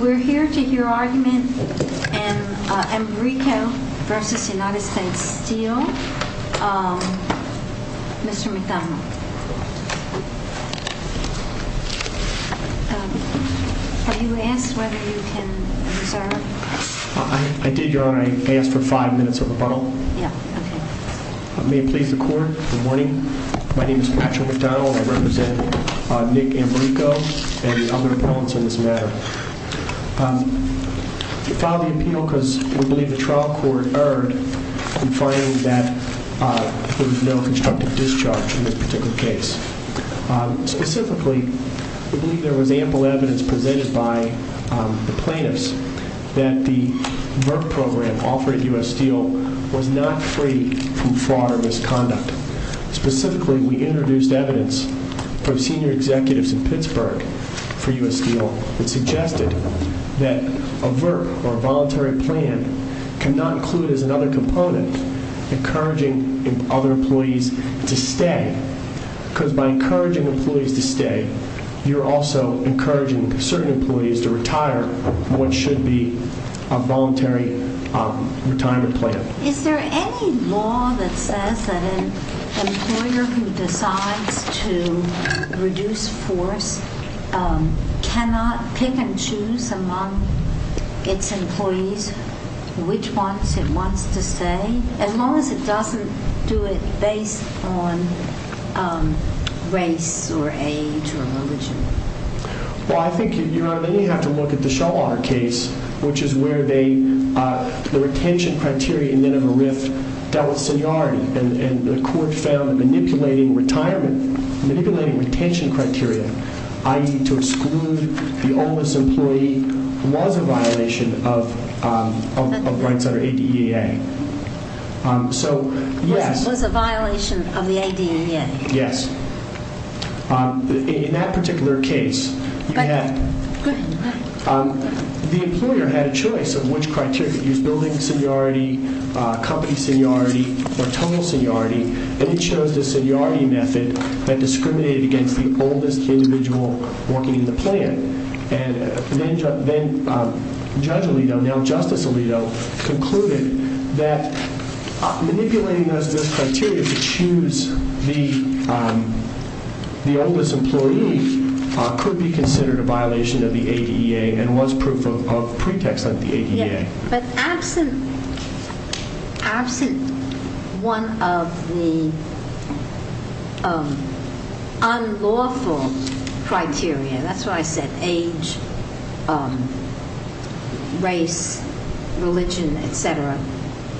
We're here to hear argument in Ambrico v. USSteel. Mr. McDonnell, were you asked whether you can observe? I did, Your Honor. I asked for five minutes of rebuttal. May it please the Court, good morning. My name is Patrick McDonnell and I represent Nick Ambrico and the other appellants in this matter. We filed the appeal because we believe the trial court erred in finding that there was no constructive discharge in this particular case. Specifically, we believe there was ample evidence presented by the plaintiffs that the Merck program offered at USSteel was not free from fraud or misconduct. Specifically, we introduced evidence from senior executives in Pittsburgh for USSteel that suggested that a VERP or a voluntary plan cannot include as another component encouraging other employees to stay. Because by encouraging employees to stay, you're also encouraging certain employees to retire from what should be a voluntary retirement plan. Is there any law that says that an employer who decides to reduce force cannot pick and choose among its employees which ones it wants to stay, as long as it doesn't do it based on race or age or religion? Well, I think you only have to look at the Shawar case, which is where the retention criteria in Minimum Rift dealt with seniority and the court found manipulating retirement, manipulating retention criteria, i.e. to exclude the oldest employee, was a violation of rights under ADEA. Was a violation of the ADEA? Yes. In that particular case, the employer had a choice of which criteria he was building seniority, company seniority, or total seniority, and he chose the seniority method that discriminated against the oldest individual working in the plan. And then Judge Alito, now Justice Alito, concluded that manipulating those criteria to choose the oldest employee could be considered a violation of the ADEA and was proof of pretext under the ADEA. But absent one of the unlawful criteria, that's why I said age, race, religion, etc.,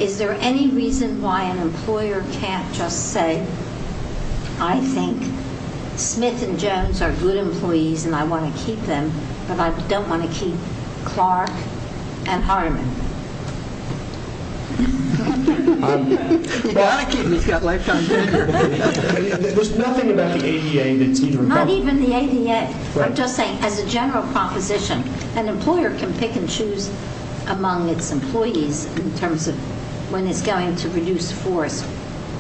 is there any reason why an employer can't just say, I think Smith and Jones are good employees and I want to keep them, but I don't want to keep Clark and Hardeman? You've got to keep them, he's got lifetime tenure. There's nothing about the ADEA that's either or. Not even the ADEA. I'm just saying, as a general proposition, an employer can pick and choose among its employees in terms of when it's going to reduce force,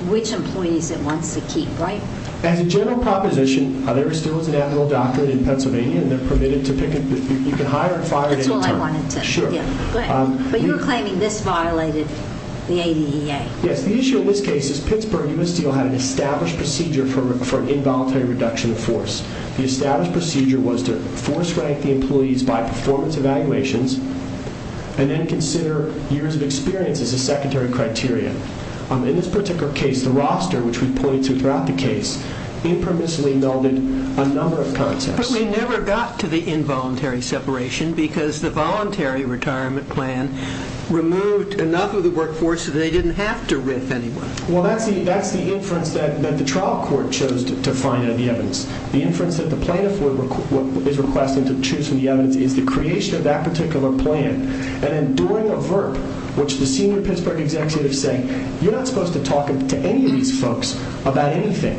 which employees it wants to keep, right? As a general proposition, there is still an admiral doctorate in Pennsylvania, and they're permitted to pick it, you can hire and fire it any time. That's all I wanted to know. But you were claiming this violated the ADEA. Yes, the issue in this case is Pittsburgh U.S. Steel had an established procedure for an involuntary reduction of force. The established procedure was to force-rank the employees by performance evaluations and then consider years of experience as a secondary criteria. In this particular case, the roster, which we've pointed to throughout the case, impermissibly melded a number of concepts. But we never got to the involuntary separation because the voluntary retirement plan removed enough of the workforce that they didn't have to riff anyone. Well, that's the inference that the trial court chose to find in the evidence. The inference that the plaintiff is requesting to choose from the evidence is the creation of that particular plan and then during a VERP, which the senior Pittsburgh executive said, you're not supposed to talk to any of these folks about anything.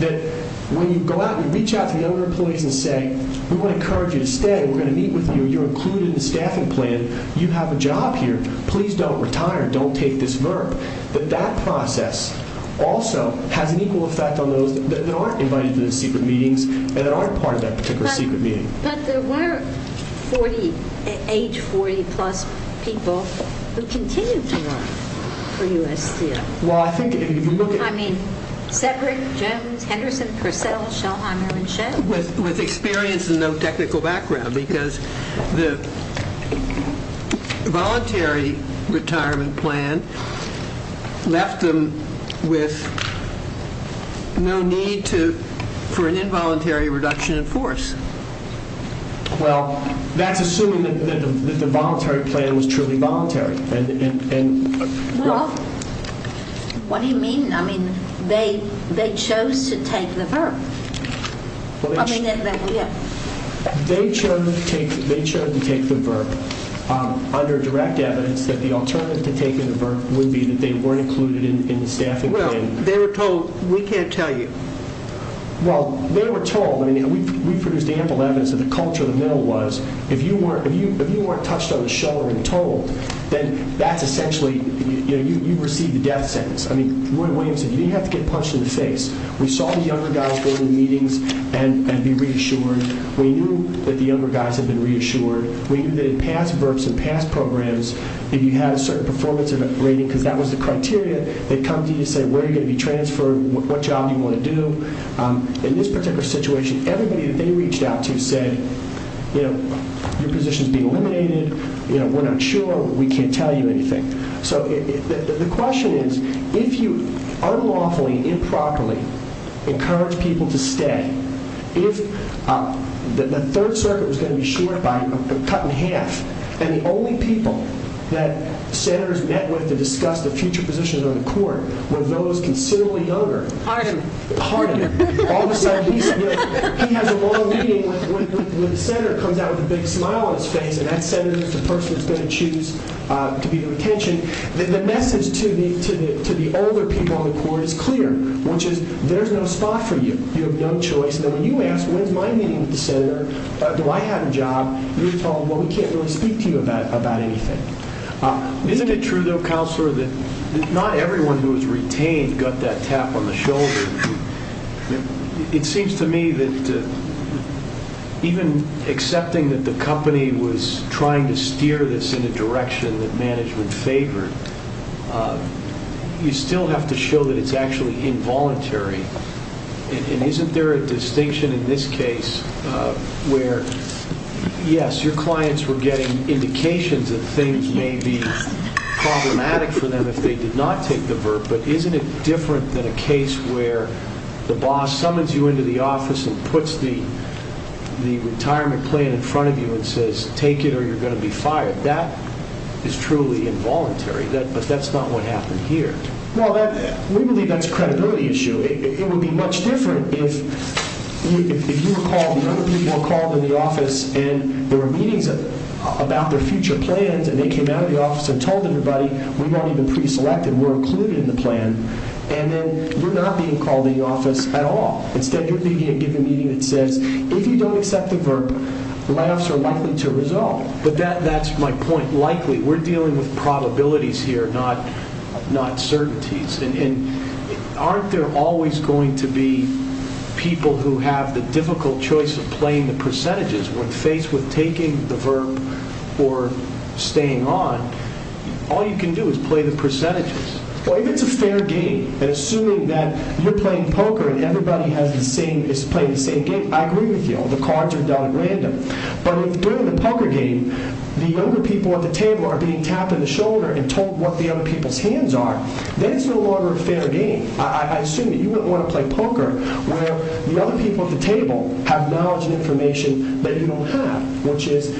That when you go out and you reach out to the other employees and say, we want to encourage you to stay, we're going to meet with you, you're included in the staffing plan, you have a job here, please don't retire, don't take this VERP. That that process also has an equal effect on those that aren't invited to the secret meetings and that aren't part of that particular secret meeting. But there were 48, 40-plus people who continued to work for USDA. Well, I think if you look at... I mean, Cedric, Jones, Henderson, Purcell, Schellheimer, and Schell? With experience and no technical background because the voluntary retirement plan left them with no need for an involuntary reduction in force. Well, that's assuming that the voluntary plan was truly voluntary. Well, what do you mean? I mean, they chose to take the VERP. They chose to take the VERP under direct evidence that the alternative to taking the VERP would be that they weren't included in the staffing plan. Well, they were told, we can't tell you. Well, they were told. I mean, we produced ample evidence that the culture in the middle was, if you weren't touched on the shoulder and told, then that's essentially, you know, you've received the death sentence. I mean, Roy Williams said, you didn't have to get punched in the face. We saw the younger guys go to meetings and be reassured. We knew that the younger guys had been reassured. We knew that in past VERPs and past programs, if you had a certain performance rating because that was the criteria, they'd come to you and say, where are you going to be transferred? What job do you want to do? In this particular situation, everybody that they reached out to said, you know, your position is being eliminated. You know, we're not sure. We can't tell you anything. So the question is, if you unlawfully, improperly encourage people to stay, if the Third Circuit was going to be short by a cut in half and the only people that senators met with to discuss the future positions on the court were those considerably younger. Harder. Harder. All of a sudden, he has a long meeting with the senator, comes out with a big smile on his face, and that senator is the person that's going to choose to be the retention. The message to the older people on the court is clear, which is there's no spot for you. You have no choice. And then when you ask, when's my meeting with the senator? Do I have a job? You're told, well, we can't really speak to you about anything. Isn't it true, though, Counselor, that not everyone who was retained got that tap on the shoulder? It seems to me that even accepting that the company was trying to steer this in a direction that management favored, you still have to show that it's actually involuntary. And isn't there a distinction in this case where, yes, your clients were getting indications that things may be problematic for them if they did not take the VERT, but isn't it different than a case where the boss summons you into the office and puts the retirement plan in front of you and says, take it or you're going to be fired. That is truly involuntary, but that's not what happened here. Well, we believe that's a credibility issue. It would be much different if you were called and other people were called in the office and there were meetings about their future plans and they came out of the office and told everybody, we won't even pre-select and we're included in the plan, and then we're not being called in the office at all. Instead, you're leading a given meeting that says, if you don't accept the VERT, the line officers are likely to resolve. But that's my point, likely. We're dealing with probabilities here, not certainties. And aren't there always going to be people who have the difficult choice of playing the percentages when faced with taking the VERT or staying on? All you can do is play the percentages. Well, if it's a fair game, and assuming that you're playing poker and everybody is playing the same game, I agree with you. The cards are dealt at random. But if during the poker game, the younger people at the table are being tapped in the shoulder and told what the other people's hands are, then it's no longer a fair game. I assume that you wouldn't want to play poker where the other people at the table have knowledge and information that you don't have, which is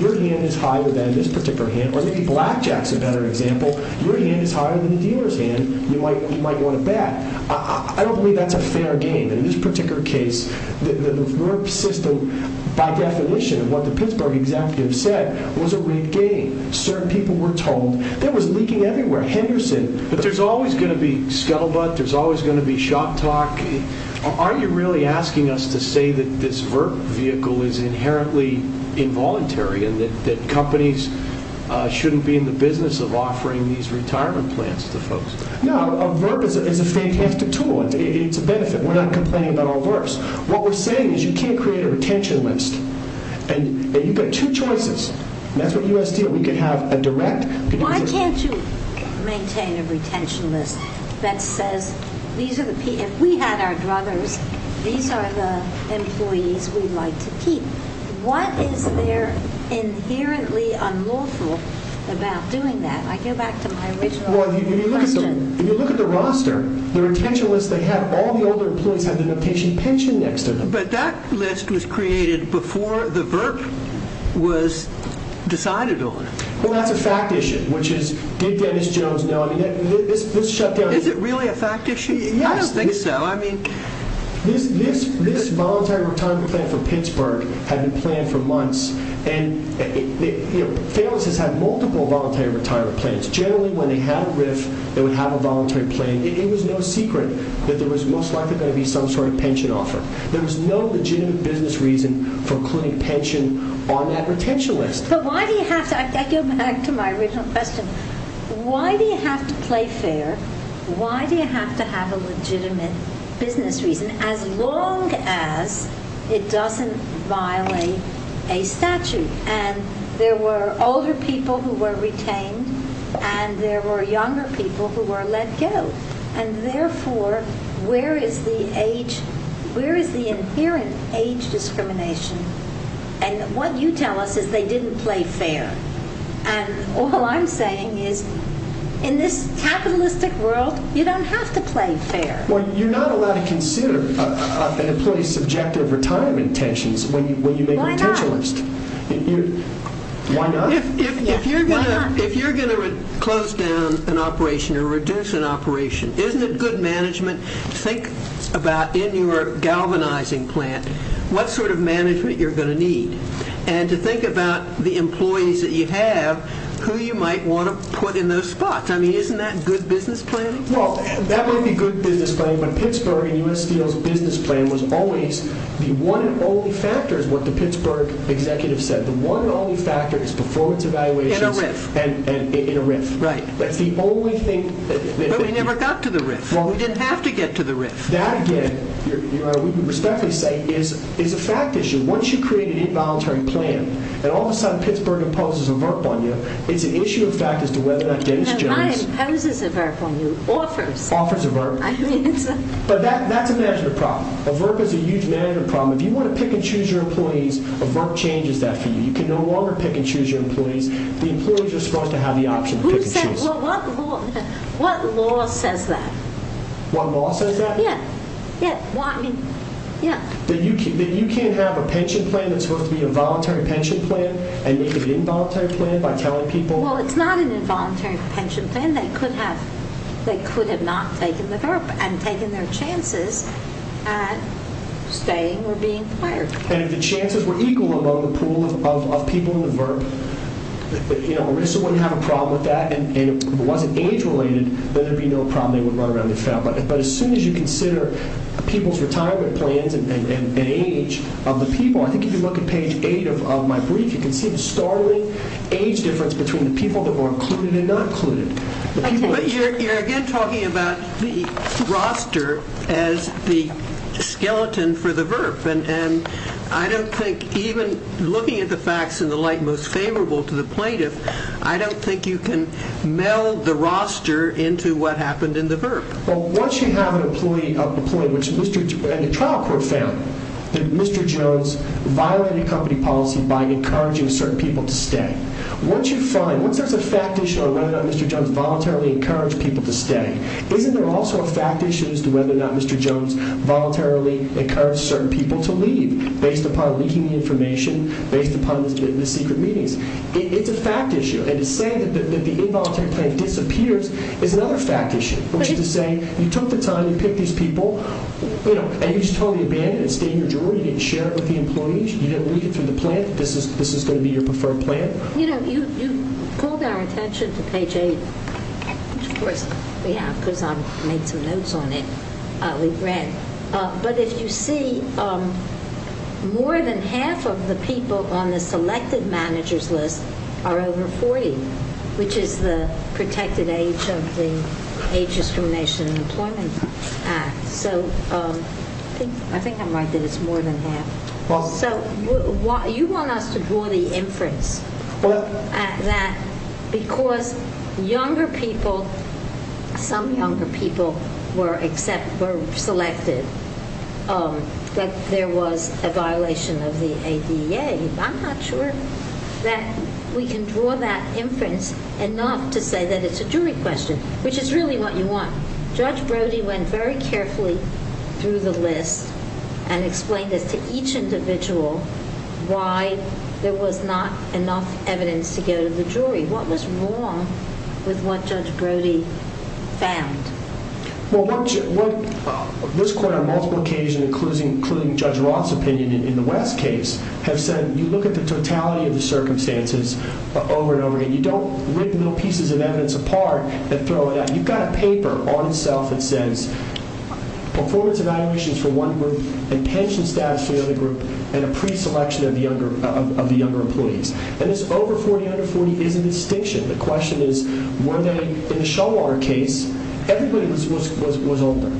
your hand is higher than this particular hand or maybe blackjack is a better example. Your hand is higher than the dealer's hand. You might want to bet. I don't believe that's a fair game. In this particular case, the VERT system, by definition, of what the Pittsburgh executive said, was a rigged game. Certain people were told. There was leaking everywhere. Henderson. But there's always going to be scuttlebutt. There's always going to be shop talk. Aren't you really asking us to say that this VERT vehicle is inherently involuntary and that companies shouldn't be in the business of offering these retirement plans to folks? No, a VERT is a fantastic tool. It's a benefit. We're not complaining about all VERTs. What we're saying is you can't create a retention list. You've got two choices. That's what you asked here. We could have a direct... Why can't you maintain a retention list that says, if we had our druthers, these are the employees we'd like to keep. What is there inherently unlawful about doing that? I go back to my original question. If you look at the roster, the retention list they have, all the older employees have the notation pension next to them. But that list was created before the VERT was decided on. Well, that's a fact issue, which is, did Dennis Jones know? Is it really a fact issue? I don't think so. This voluntary retirement plan for Pittsburgh had been planned for months. Famous has had multiple voluntary retirement plans. Generally, when they had a RRIF, they would have a voluntary plan. It was no secret that there was most likely going to be some sort of pension offer. There was no legitimate business reason for including pension on that retention list. I go back to my original question. Why do you have to play fair? Why do you have to have a legitimate business reason, as long as it doesn't violate a statute? There were older people who were retained, and there were younger people who were let go. Therefore, where is the inherent age discrimination? What you tell us is they didn't play fair. All I'm saying is, in this capitalistic world, you don't have to play fair. You're not allowed to consider an employee's subjective retirement intentions when you make a retention list. Why not? If you're going to close down an operation or reduce an operation, isn't it good management to think about, in your galvanizing plan, what sort of management you're going to need, and to think about the employees that you have, who you might want to put in those spots? Isn't that good business planning? That might be good business planning, but the Pittsburgh and U.S. Steel's business plan was always the one and only factor, is what the Pittsburgh executive said. The one and only factor is performance evaluations in a RIF. That's the only thing. But we never got to the RIF. We didn't have to get to the RIF. That, again, is a fact issue. Once you create an involuntary plan, and all of a sudden Pittsburgh imposes a VERP on you, it's an issue of fact as to whether or not Dennis Jones... Not imposes a VERP on you, offers. Offers a VERP. But that's a management problem. A VERP is a huge management problem. If you want to pick and choose your employees, a VERP changes that for you. You can no longer pick and choose your employees. The employees are supposed to have the option to pick and choose. What law says that? What law says that? Yeah. Yeah. That you can't have a pension plan that's supposed to be a voluntary pension plan and make it an involuntary plan by telling people... Well, it's not an involuntary pension plan. They could have not taken the VERP and taken their chances at staying or being fired. And if the chances were equal among the pool of people in the VERP, Arisa wouldn't have a problem with that, and if it wasn't age-related, then there'd be no problem. They wouldn't run around and be found. But as soon as you consider people's retirement plans and age of the people, I think if you look at page 8 of my brief, you can see the startling age difference between the people that were included and not included. But you're again talking about the roster as the skeleton for the VERP. And I don't think even looking at the facts in the light most favorable to the plaintiff, I don't think you can meld the roster into what happened in the VERP. Well, once you have an employee... And the trial court found that Mr. Jones violated company policy by encouraging certain people to stay. Once you find... Once there's a fact issue on whether or not Mr. Jones voluntarily encouraged people to stay, isn't there also a fact issue as to whether or not Mr. Jones voluntarily encouraged certain people to leave based upon leaking the information, based upon the secret meetings? It's a fact issue. And to say that the involuntary plan disappears is another fact issue, which is to say you took the time, you picked these people, and you just totally abandoned it. It's in your jury. You didn't share it with the employees. You didn't read it through the plan. This is going to be your preferred plan. You know, you called our attention to page 8, which of course we have because I made some notes on it. We've read. But if you see, more than half of the people on the selected managers list are over 40, which is the protected age of the Age Discrimination and Employment Act. So I think I'm right that it's more than half. So you want us to draw the inference that because younger people, some younger people were selected, that there was a violation of the ADA. I'm not sure that we can draw that inference enough to say that it's a jury question, which is really what you want. Judge Brody went very carefully through the list and explained this to each individual why there was not enough evidence to go to the jury. What was wrong with what Judge Brody found? Well, this court on multiple occasions, including Judge Roth's opinion in the West case, have said you look at the totality of the circumstances over and over again. You don't rip little pieces of evidence apart and throw it out. You've got a paper on itself that says performance evaluations for one group and pension status for the other group and a pre-selection of the younger employees. And this over 40, under 40 is a distinction. The question is, were they in the Showwater case? Everybody was older.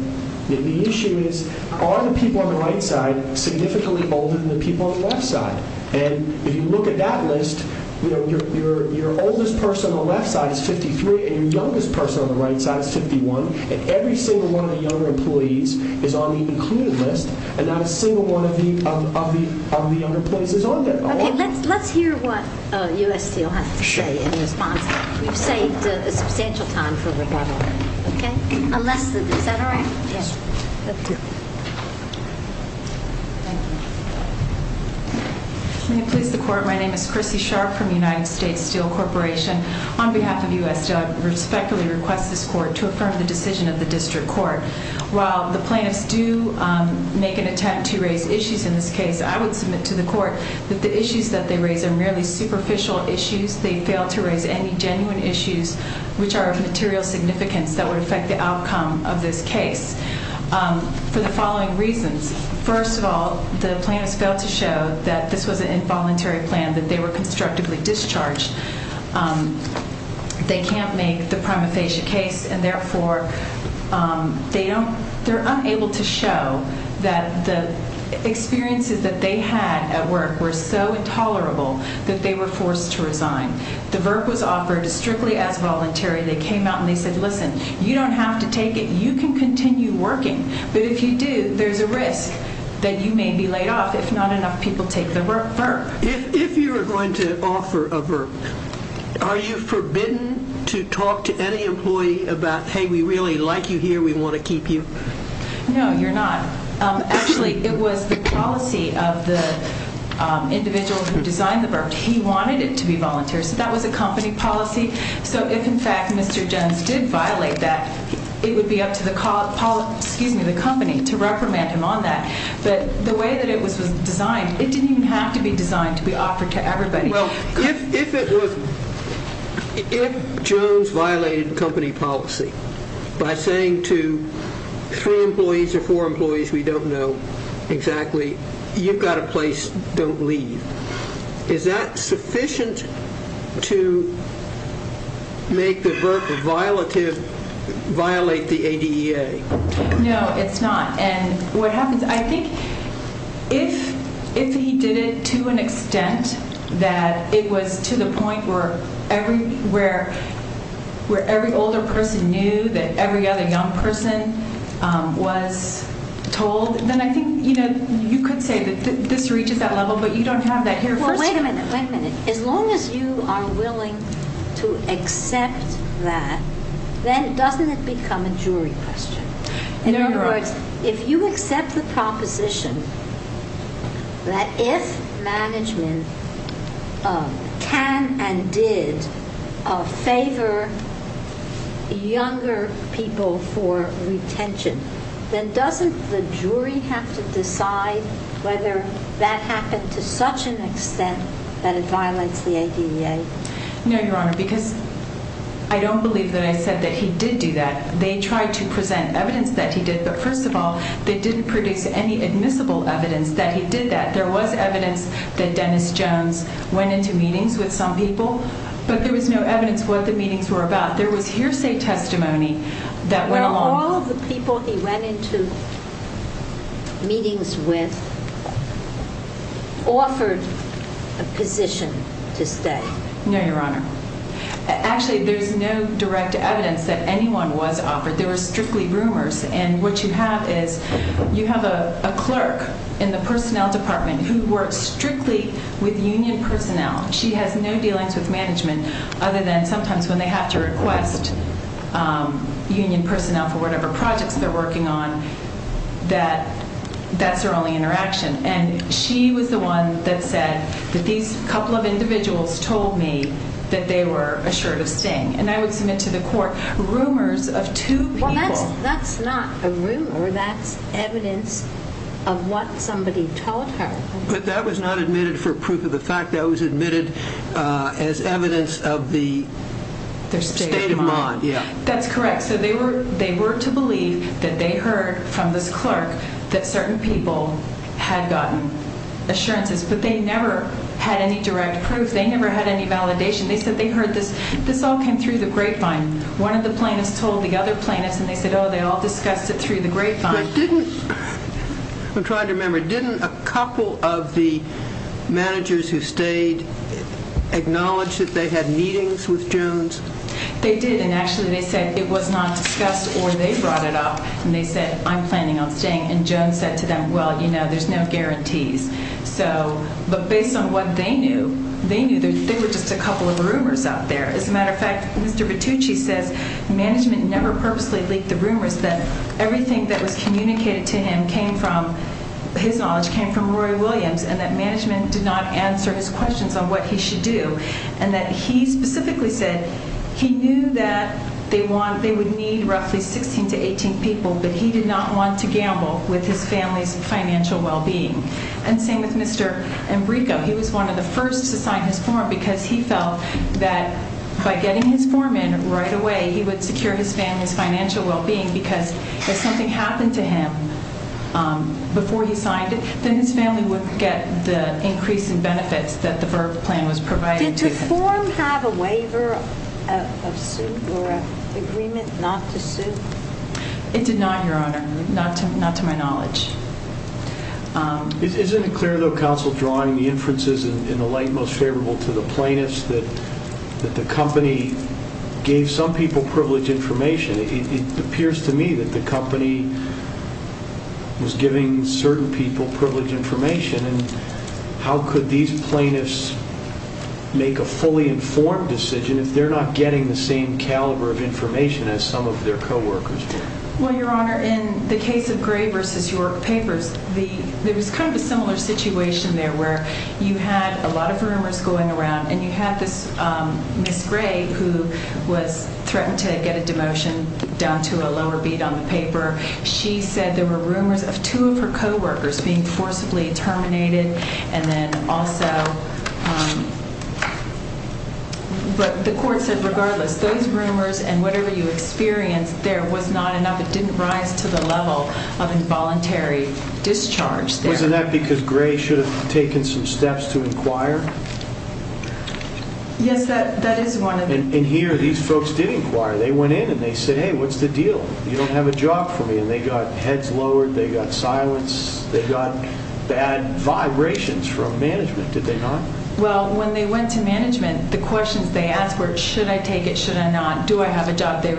The issue is, are the people on the right side significantly older than the people on the left side? And if you look at that list, your oldest person on the left side is 53 and your youngest person on the right side is 51. And every single one of the younger employees is on the included list and not a single one of the younger employees is on there. Okay, let's hear what U.S. Steel has to say in response. You've saved a substantial time for rebuttal. Okay? Unless, is that all right? Yes. May it please the court, my name is Chrissy Sharp from the United States Steel Corporation. On behalf of U.S. Steel, I respectfully request this court to affirm the decision of the district court. While the plaintiffs do make an attempt to raise issues in this case, I would submit to the court that the issues that they raise are merely superficial issues. They fail to raise any genuine issues which are of material significance that would affect the outcome of this case for the following reasons. First of all, the plaintiffs failed to show that this was an involuntary plan, that they were constructively discharged. They can't make the prima facie case and therefore they don't, they're unable to show that the experiences that they had at work were so intolerable that they were forced to resign. The work was offered strictly as voluntary. They came out and they said, listen, you don't have to take it, you can continue working, but if you do, there's a risk that you may be laid off if not enough people take the VERP. If you're going to offer a VERP, are you forbidden to talk to any employee about, hey, we really like you here, we want to keep you? No, you're not. Actually, it was the policy of the individual who designed the VERP. He wanted it to be voluntary, so that was a company policy. So if, in fact, Mr. Jones did violate that, it would be up to the company to reprimand him on that. But the way that it was designed, it didn't even have to be designed to be offered to everybody. Well, if it was, if Jones violated company policy by saying to three employees or four employees, we don't know exactly, you've got a place, don't leave, is that sufficient to make the VERP violate the ADEA? No, it's not. And what happens, I think if he did it to an extent that it was to the point where every older person knew that every other young person was told, then I think you could say that this reaches that level, but you don't have that here. Well, wait a minute, wait a minute. As long as you are willing to accept that, then doesn't it become a jury question? In other words, if you accept the proposition that if management can and did favor younger people for retention, then doesn't the jury have to decide whether that happened to such an extent that it violates the ADEA? No, Your Honor, because I don't believe that I said that he did do that. They tried to present evidence that he did, but first of all, they didn't produce any admissible evidence that he did that. There was evidence that Dennis Jones went into meetings with some people, but there was no evidence what the meetings were about. There was hearsay testimony that went along with it. He went into meetings with, offered a position to stay. No, Your Honor. Actually, there's no direct evidence that anyone was offered. There were strictly rumors, and what you have is you have a clerk in the personnel department who works strictly with union personnel. She has no dealings with management other than sometimes when they have to request union personnel for whatever projects they're working on, that that's their only interaction, and she was the one that said that these couple of individuals told me that they were assured of sting, and I would submit to the court rumors of two people. Well, that's not a rumor. That's evidence of what somebody told her. But that was not admitted for proof of the fact. That was admitted as evidence of the state of mind. That's correct. So they were to believe that they heard from this clerk that certain people had gotten assurances, but they never had any direct proof. They never had any validation. They said they heard this. This all came through the grapevine. One of the plaintiffs told the other plaintiffs, and they said, oh, they all discussed it through the grapevine. But didn't, I'm trying to remember, didn't a couple of the managers who stayed acknowledge that they had meetings with Jones? They did, and actually they said it was not discussed or they brought it up, and they said, I'm planning on staying, and Jones said to them, well, you know, there's no guarantees. So, but based on what they knew, they knew there were just a couple of rumors out there. As a matter of fact, Mr. Battucci says management never purposely leaked the rumors, that everything that was communicated to him came from, his knowledge came from Roy Williams, and that management did not answer his questions on what he should do, and that he specifically said he knew that they would need roughly 16 to 18 people, but he did not want to gamble with his family's financial well-being. And same with Mr. Embrico. He was one of the first to sign his form because he felt that by getting his form in right away, he would secure his family's financial well-being because if something happened to him before he signed it, then his family wouldn't get the increase in benefits that the VIRB plan was providing to them. Did the form have a waiver of suit or an agreement not to sue? It did not, Your Honor, not to my knowledge. Isn't it clear, though, Counsel, drawing the inferences in the light most favorable to the plaintiffs that the company gave some people privileged information? It appears to me that the company was giving certain people privileged information, and how could these plaintiffs make a fully informed decision if they're not getting the same caliber of information as some of their co-workers do? Well, Your Honor, in the case of Gray v. York Papers, there was kind of a similar situation there where you had a lot of rumors going around, and you had this Ms. Gray who was threatened to get a demotion down to a lower beat on the paper. She said there were rumors of two of her co-workers being forcibly terminated, and then also... But the court said regardless, those rumors and whatever you experienced there was not enough. It didn't rise to the level of involuntary discharge there. Wasn't that because Gray should have taken some steps to inquire? Yes, that is one of the... And here these folks did inquire. They went in and they said, hey, what's the deal? You don't have a job for me, and they got heads lowered. They got silenced. They got bad vibrations from management, did they not? Well, when they went to management, the questions they asked were, should I take it, should I not? Do I have a job? They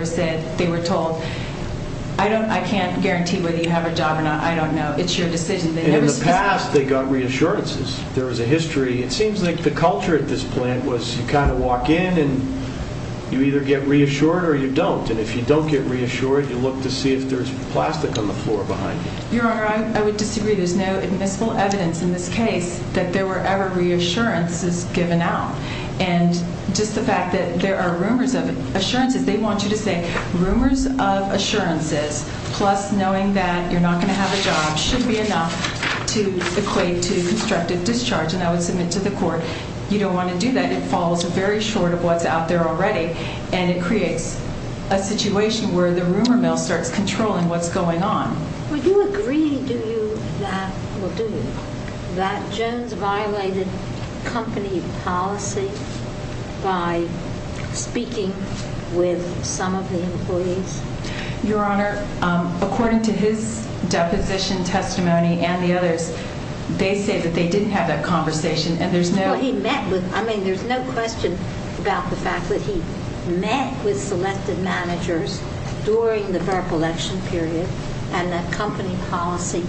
were told, I can't guarantee whether you have a job or not. I don't know. It's your decision. In the past, they got reassurances. There was a history. It seems like the culture at this plant was you kind of walk in and you either get reassured or you don't. And if you don't get reassured, you look to see if there's plastic on the floor behind you. Your Honor, I would disagree. There's no admissible evidence in this case that there were ever reassurances given out. And just the fact that there are rumors of assurances, they want you to say rumors of assurances plus knowing that you're not going to have a job should be enough to equate to constructive discharge. And I would submit to the court, you don't want to do that. It falls very short of what's out there already, and it creates a situation where the rumor mill starts controlling what's going on. Would you agree, do you, that, well, do you, that Jones violated company policy by speaking with some of the employees? Your Honor, according to his deposition testimony and the others, they say that they didn't have that conversation, and there's no... Well, he met with, I mean, there's no question about the fact that he met with selected managers during the VERP election period, and that company policy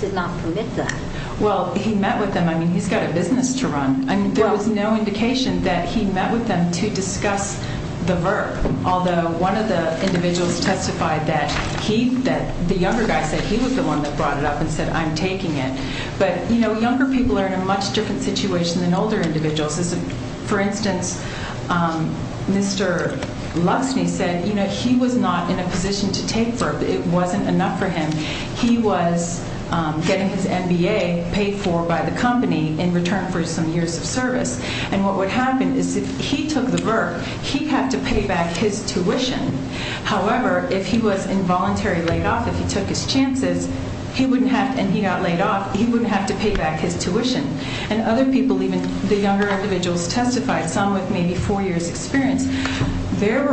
did not permit that. Well, he met with them. I mean, he's got a business to run. I mean, there was no indication that he met with them to discuss the VERP, although one of the individuals testified that he, that the younger guy said he was the one that brought it up and said, I'm taking it. But, you know, younger people are in a much different situation than older individuals. For instance, Mr. Luxney said, you know, he was not in a position to take VERP. It wasn't enough for him. He was getting his MBA paid for by the company in return for some years of service. And what would happen is if he took the VERP, he'd have to pay back his tuition. However, if he was involuntarily laid off, if he took his chances, and he got laid off, he wouldn't have to pay back his tuition. And other people, even the younger individuals testified, some with maybe four years' experience, their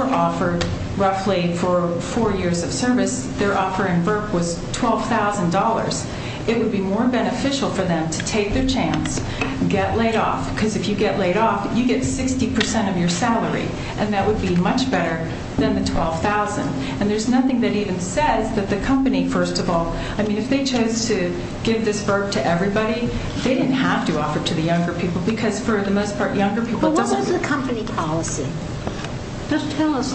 offer, roughly, for four years of service, their offer in VERP was $12,000. It would be more beneficial for them to take their chance, get laid off, because if you get laid off, you get 60% of your salary, and that would be much better than the $12,000. And there's nothing that even says that the company, first of all, I mean, if they chose to give this VERP to everybody, they didn't have to offer it to the younger people because, for the most part, younger people don't get it. But what was the company policy? Just tell us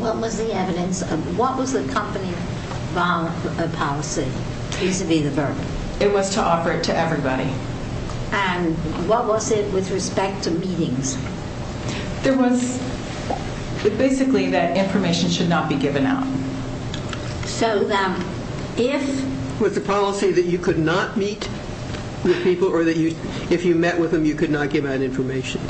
what was the evidence. What was the company policy vis-à-vis the VERP? It was to offer it to everybody. Okay. And what was it with respect to meetings? There was basically that information should not be given out. Was the policy that you could not meet with people or that if you met with them you could not give out information?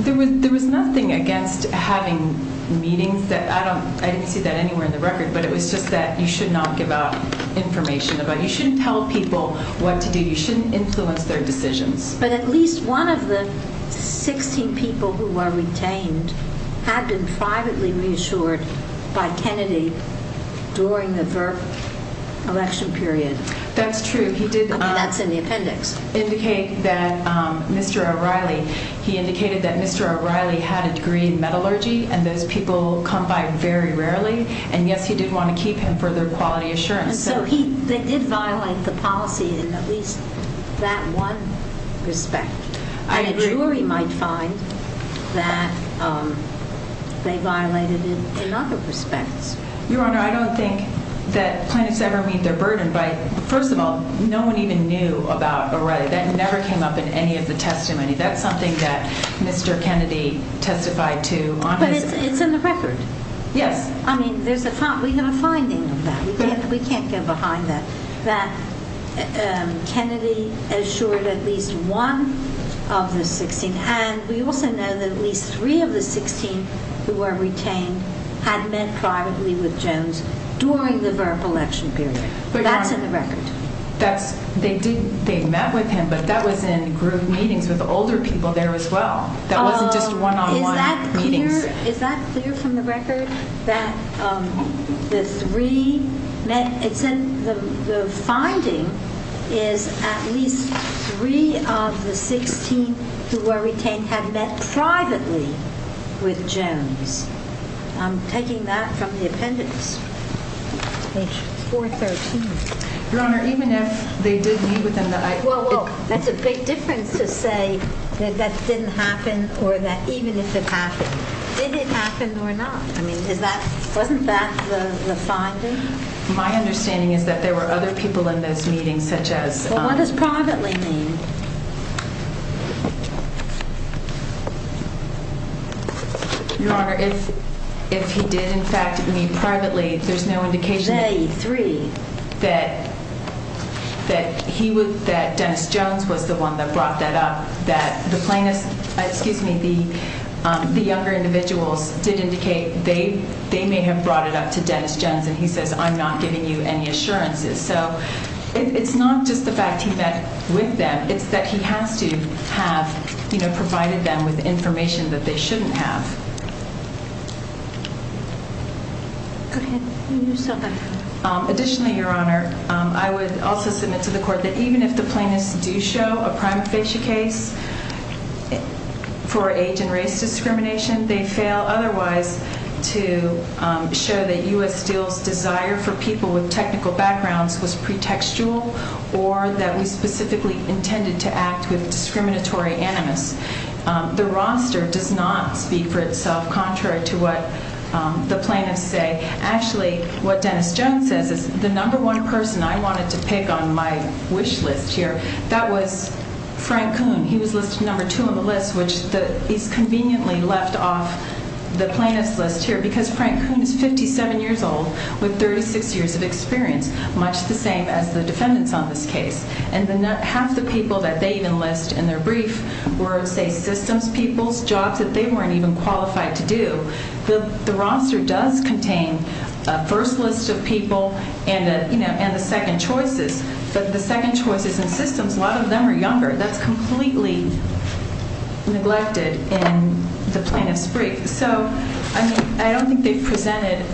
There was nothing against having meetings. I didn't see that anywhere in the record, but it was just that you should not give out information. You shouldn't tell people what to do. You shouldn't influence their decisions. But at least one of the 16 people who were retained had been privately reassured by Kennedy during the VERP election period. That's true. I mean, that's in the appendix. He did indicate that Mr. O'Reilly had a degree in metallurgy, and those people come by very rarely. And, yes, he did want to keep him for their quality assurance. And so he did violate the policy in at least that one respect. And a jury might find that they violated it in other respects. Your Honor, I don't think that plaintiffs ever meet their burden. First of all, no one even knew about O'Reilly. That never came up in any of the testimony. That's something that Mr. Kennedy testified to on his... But it's in the record. Yes. I mean, we have a finding of that. We can't get behind that, that Kennedy assured at least one of the 16. And we also know that at least three of the 16 who were retained had met privately with Jones during the VERP election period. That's in the record. They met with him, but that was in group meetings with older people there as well. That wasn't just one-on-one meetings. Is that clear from the record that the three met? The finding is at least three of the 16 who were retained had met privately with Jones. I'm taking that from the appendix, page 413. Your Honor, even if they did meet with him, I... Well, that's a big difference to say that that didn't happen or that even if it happened. Did it happen or not? I mean, wasn't that the finding? My understanding is that there were other people in those meetings such as... Well, what does privately mean? Your Honor, if he did, in fact, meet privately, there's no indication... They, three. ...that Dennis Jones was the one that brought that up, that the younger individuals did indicate they may have brought it up to Dennis Jones, and he says, I'm not giving you any assurances. So it's not just the fact he met with them. It's that he has to have provided them with information that they shouldn't have. Go ahead. Additionally, Your Honor, I would also submit to the Court that even if the plaintiffs do show a prima facie case for age and race discrimination, they fail otherwise to show that U.S. Steel's desire for people with technical backgrounds was pretextual or that we specifically intended to act with discriminatory animus. The roster does not speak for itself contrary to what the plaintiffs say. Actually, what Dennis Jones says is the number one person I wanted to pick on my wish list here, that was Frank Kuhn. He was listed number two on the list, which is conveniently left off the plaintiff's list here because Frank Kuhn is 57 years old with 36 years of experience, much the same as the defendants on this case. And half the people that they even list in their brief were, say, systems people's jobs that they weren't even qualified to do. The roster does contain a first list of people and the second choices. But the second choices in systems, a lot of them are younger. That's completely neglected in the plaintiff's brief. So, I mean, I don't think they've presented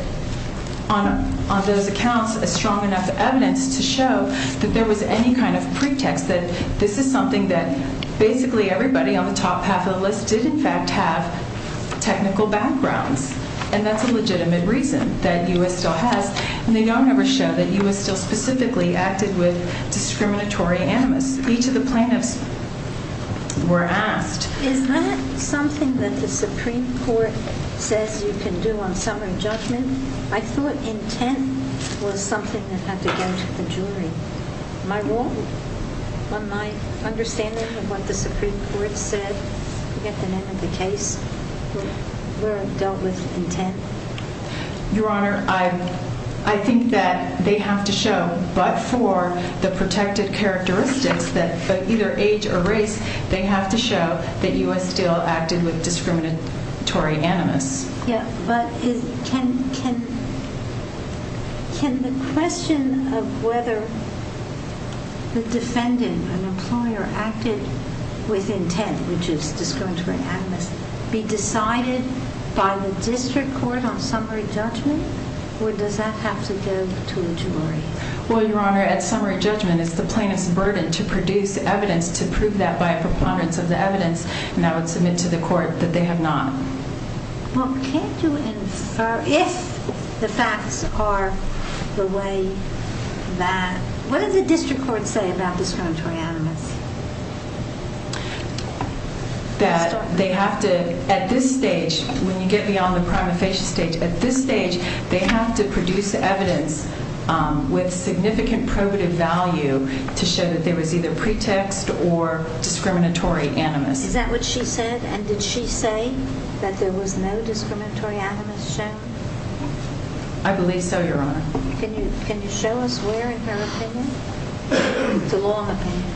on those accounts a strong enough evidence to show that there was any kind of pretext, that this is something that basically everybody on the top half of the list did in fact have technical backgrounds. And that's a legitimate reason that U.S. Steel has. And they don't ever show that U.S. Steel specifically acted with discriminatory animus. Each of the plaintiffs were asked. Is that something that the Supreme Court says you can do on summary judgment? I thought intent was something that had to go to the jury. Am I wrong on my understanding of what the Supreme Court said at the end of the case where it dealt with intent? Your Honor, I think that they have to show, but for the protected characteristics, but either age or race, they have to show that U.S. Steel acted with discriminatory animus. Yeah, but can the question of whether the defendant, an employer, acted with intent, which is discriminatory animus, be decided by the district court on summary judgment? Or does that have to go to a jury? Well, Your Honor, at summary judgment, it's the plaintiff's burden to produce evidence to prove that by a preponderance of the evidence. And I would submit to the court that they have not. Well, can't you infer if the facts are the way that... What does the district court say about discriminatory animus? That they have to, at this stage, when you get beyond the prima facie stage, they have to produce evidence with significant probative value to show that there was either pretext or discriminatory animus. Is that what she said? And did she say that there was no discriminatory animus shown? I believe so, Your Honor. Can you show us where in her opinion? It's a long opinion.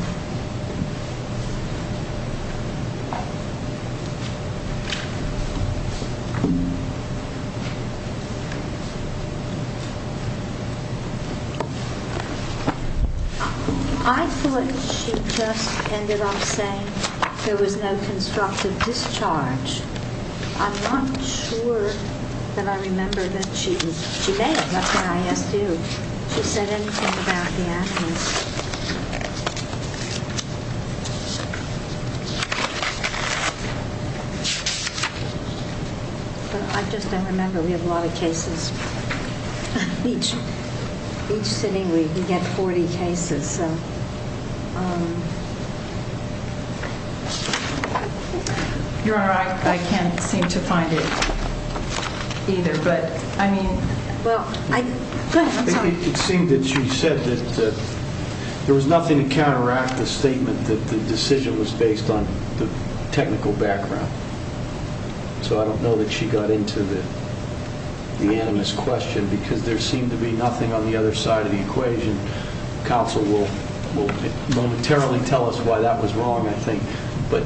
I thought she just ended up saying there was no constructive discharge. I'm not sure that I remember that she did. She may have. That's what I asked you. Did she say anything about the animus? I just don't remember. We have a lot of cases. Each sitting we can get 40 cases. Your Honor, I can't seem to find it either, but I mean... It seemed that she said that there was nothing to counteract the statement that the decision was based on the technical background. So I don't know that she got into the animus question because there seemed to be nothing on the other side of the equation. Counsel will momentarily tell us why that was wrong, I think, but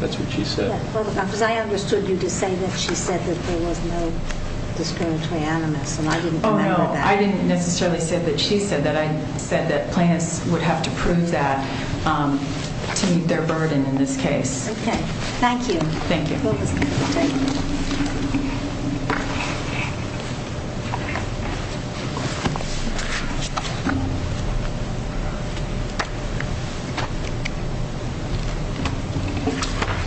that's what she said. Because I understood you to say that she said that there was no discriminatory animus, and I didn't remember that. I didn't necessarily say that she said that. I said that plaintiffs would have to prove that to meet their burden in this case. Okay. Thank you. Thank you. Thank you.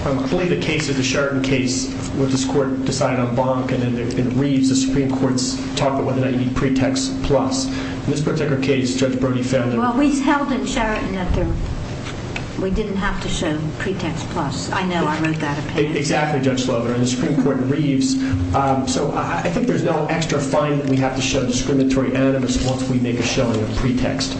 I believe the case is the Sheraton case where this Court decided on Bonk, and then in Reeves the Supreme Court's talk about whether or not you need pretext plus. In this particular case, Judge Brody found that... Well, we held in Sheraton that we didn't have to show pretext plus. I know I made that opinion. Exactly, Judge Slover, and the Supreme Court in Reeves. So I think there's no extra fine that we have to show discriminatory animus once we make a showing of pretext.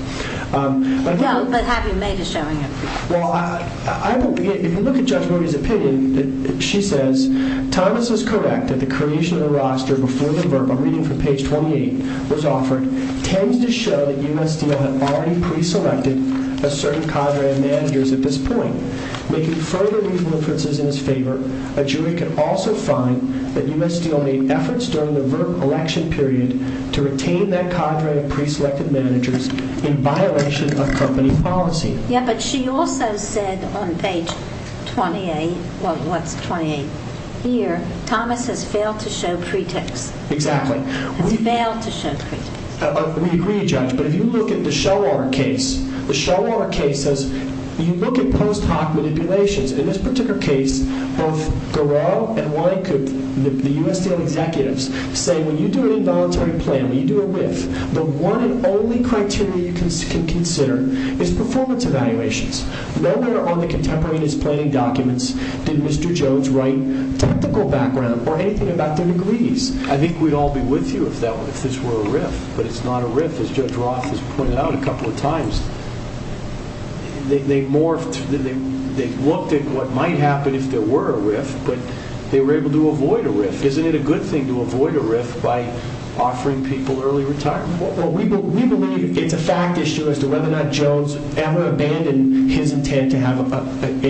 No, but have you made a showing of pretext? Well, I will begin. If you look at Judge Brody's opinion, she says, Thomas is correct that the creation of the roster before the verbal reading from page 28 was offered tends to show that U.S. Steel had already preselected a certain cadre of managers at this point, making further legal inferences in his favor. A jury could also find that U.S. Steel made efforts during the election period to retain that cadre of preselected managers in violation of company policy. Yeah, but she also said on page 28, well, what's 28? Here, Thomas has failed to show pretext. Exactly. He's failed to show pretext. We agree, Judge, but if you look at the Shawar case, you look at post hoc manipulations. In this particular case, both Garreau and Wynkoop, the U.S. Steel executives, say when you do an involuntary plan, when you do a RIF, the one and only criteria you can consider is performance evaluations. Nowhere on the contemporaneous planning documents did Mr. Jones write technical background or anything about their degrees. I think we'd all be with you if this were a RIF, but it's not a RIF. As Judge Roth has pointed out a couple of times, they morphed, they looked at what might happen if there were a RIF, but they were able to avoid a RIF. Isn't it a good thing to avoid a RIF by offering people early retirement? Well, we believe it's a fact issue as to whether or not Jones ever abandoned his intent to have an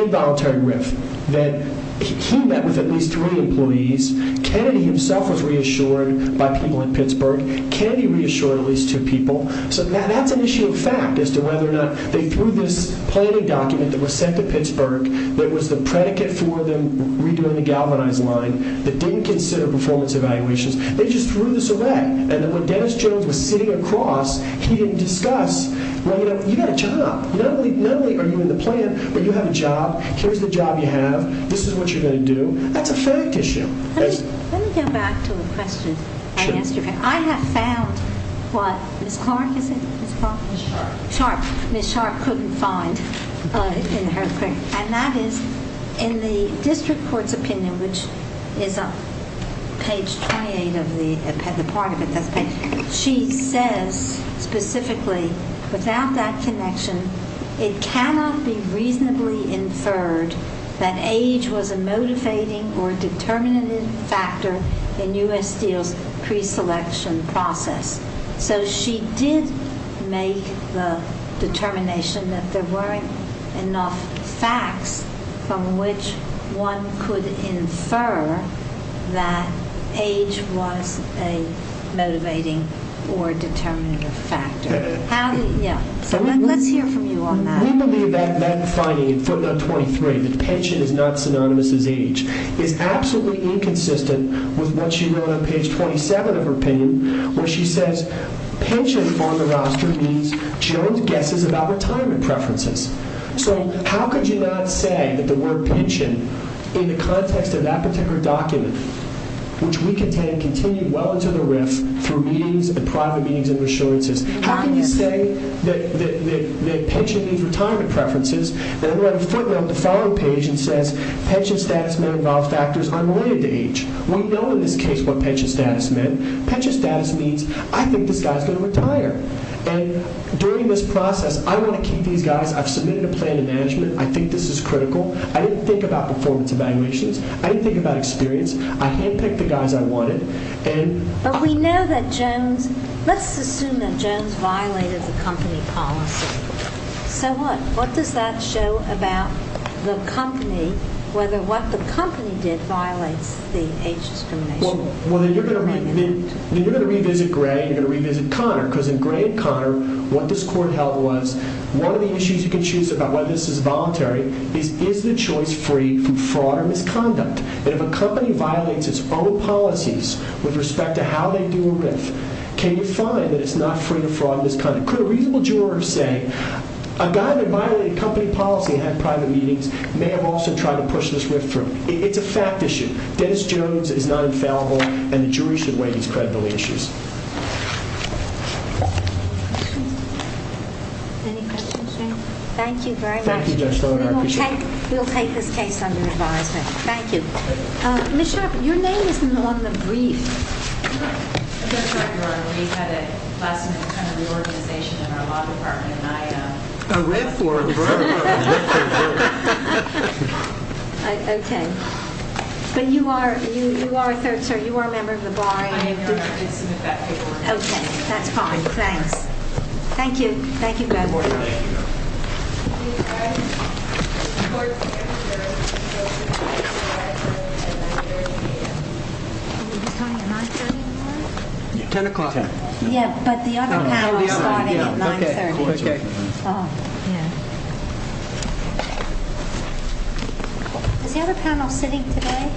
involuntary RIF, that he met with at least three employees. Kennedy himself was reassured by people in Pittsburgh. Kennedy reassured at least two people. So that's an issue of fact as to whether or not they threw this planning document that was sent to Pittsburgh that was the predicate for them redoing the galvanized line that didn't consider performance evaluations. They just threw this away. And when Dennis Jones was sitting across, he didn't discuss, well, you've got a job. Not only are you in the plan, but you have a job. Here's the job you have. This is what you're going to do. That's a fact issue. Let me go back to a question. I have found what Ms. Clark, is it Ms. Clark? Ms. Sharp. Ms. Sharp couldn't find. And that is in the district court's opinion, which is on page 28 of the part of it, she says specifically, without that connection, it cannot be reasonably inferred that age was a motivating or determinative factor in U.S. Steel's preselection process. So she did make the determination that there weren't enough facts from which one could infer that age was a motivating or determinative factor. Let's hear from you on that. We believe that that finding in footnote 23, that pension is not synonymous with age, is absolutely inconsistent with what she wrote on page 27 of her opinion, where she says pension on the roster means Jones guesses about retirement preferences. So how could you not say that the word pension, in the context of that particular document, which we contend continued well into the RIF through meetings and private meetings and reassurances, how can you say that pension means retirement preferences, and then write a footnote on the following page that says pension status may involve factors unrelated to age. We know in this case what pension status meant. Pension status means I think this guy is going to retire. And during this process, I want to keep these guys. I've submitted a plan of management. I think this is critical. I didn't think about performance evaluations. I didn't think about experience. I handpicked the guys I wanted. But we know that Jones, let's assume that Jones violated the company policy. So what? What does that show about the company, whether what the company did violates the age discrimination? Well, then you're going to revisit Gray and you're going to revisit Conner, because in Gray and Conner, what this court held was one of the issues you can choose about whether this is voluntary is is the choice free from fraud or misconduct? And if a company violates its own policies with respect to how they do a RIF, can you find that it's not free from fraud or misconduct? Could a reasonable juror say a guy that violated company policy and had private meetings may have also tried to push this RIF through? It's a fact issue. Dennis Jones is not infallible, and the jury should weigh these credibility issues. Any questions, Jay? Thank you very much. Thank you, Judge Sloan. We'll take this case under advisement. Thank you. Ms. Sharpe, your name isn't on the brief. I'm not sure, Your Honor. We had a lesson in kind of reorganization in our law department, and I- A RIF word, bro. A RIF word. Okay. But you are a third, sir. You are a member of the bar. I am, Your Honor. I did submit that paperwork. Okay. That's fine. Thanks. Thank you. Thank you both. We ask that the court camber go to court at 9 30 a.m. Were we just going at 9 30 in the morning? Ten o'clock. Yeah, but the other panel started at 9 30. Okay. Oh, yeah. Is the other panel sitting today?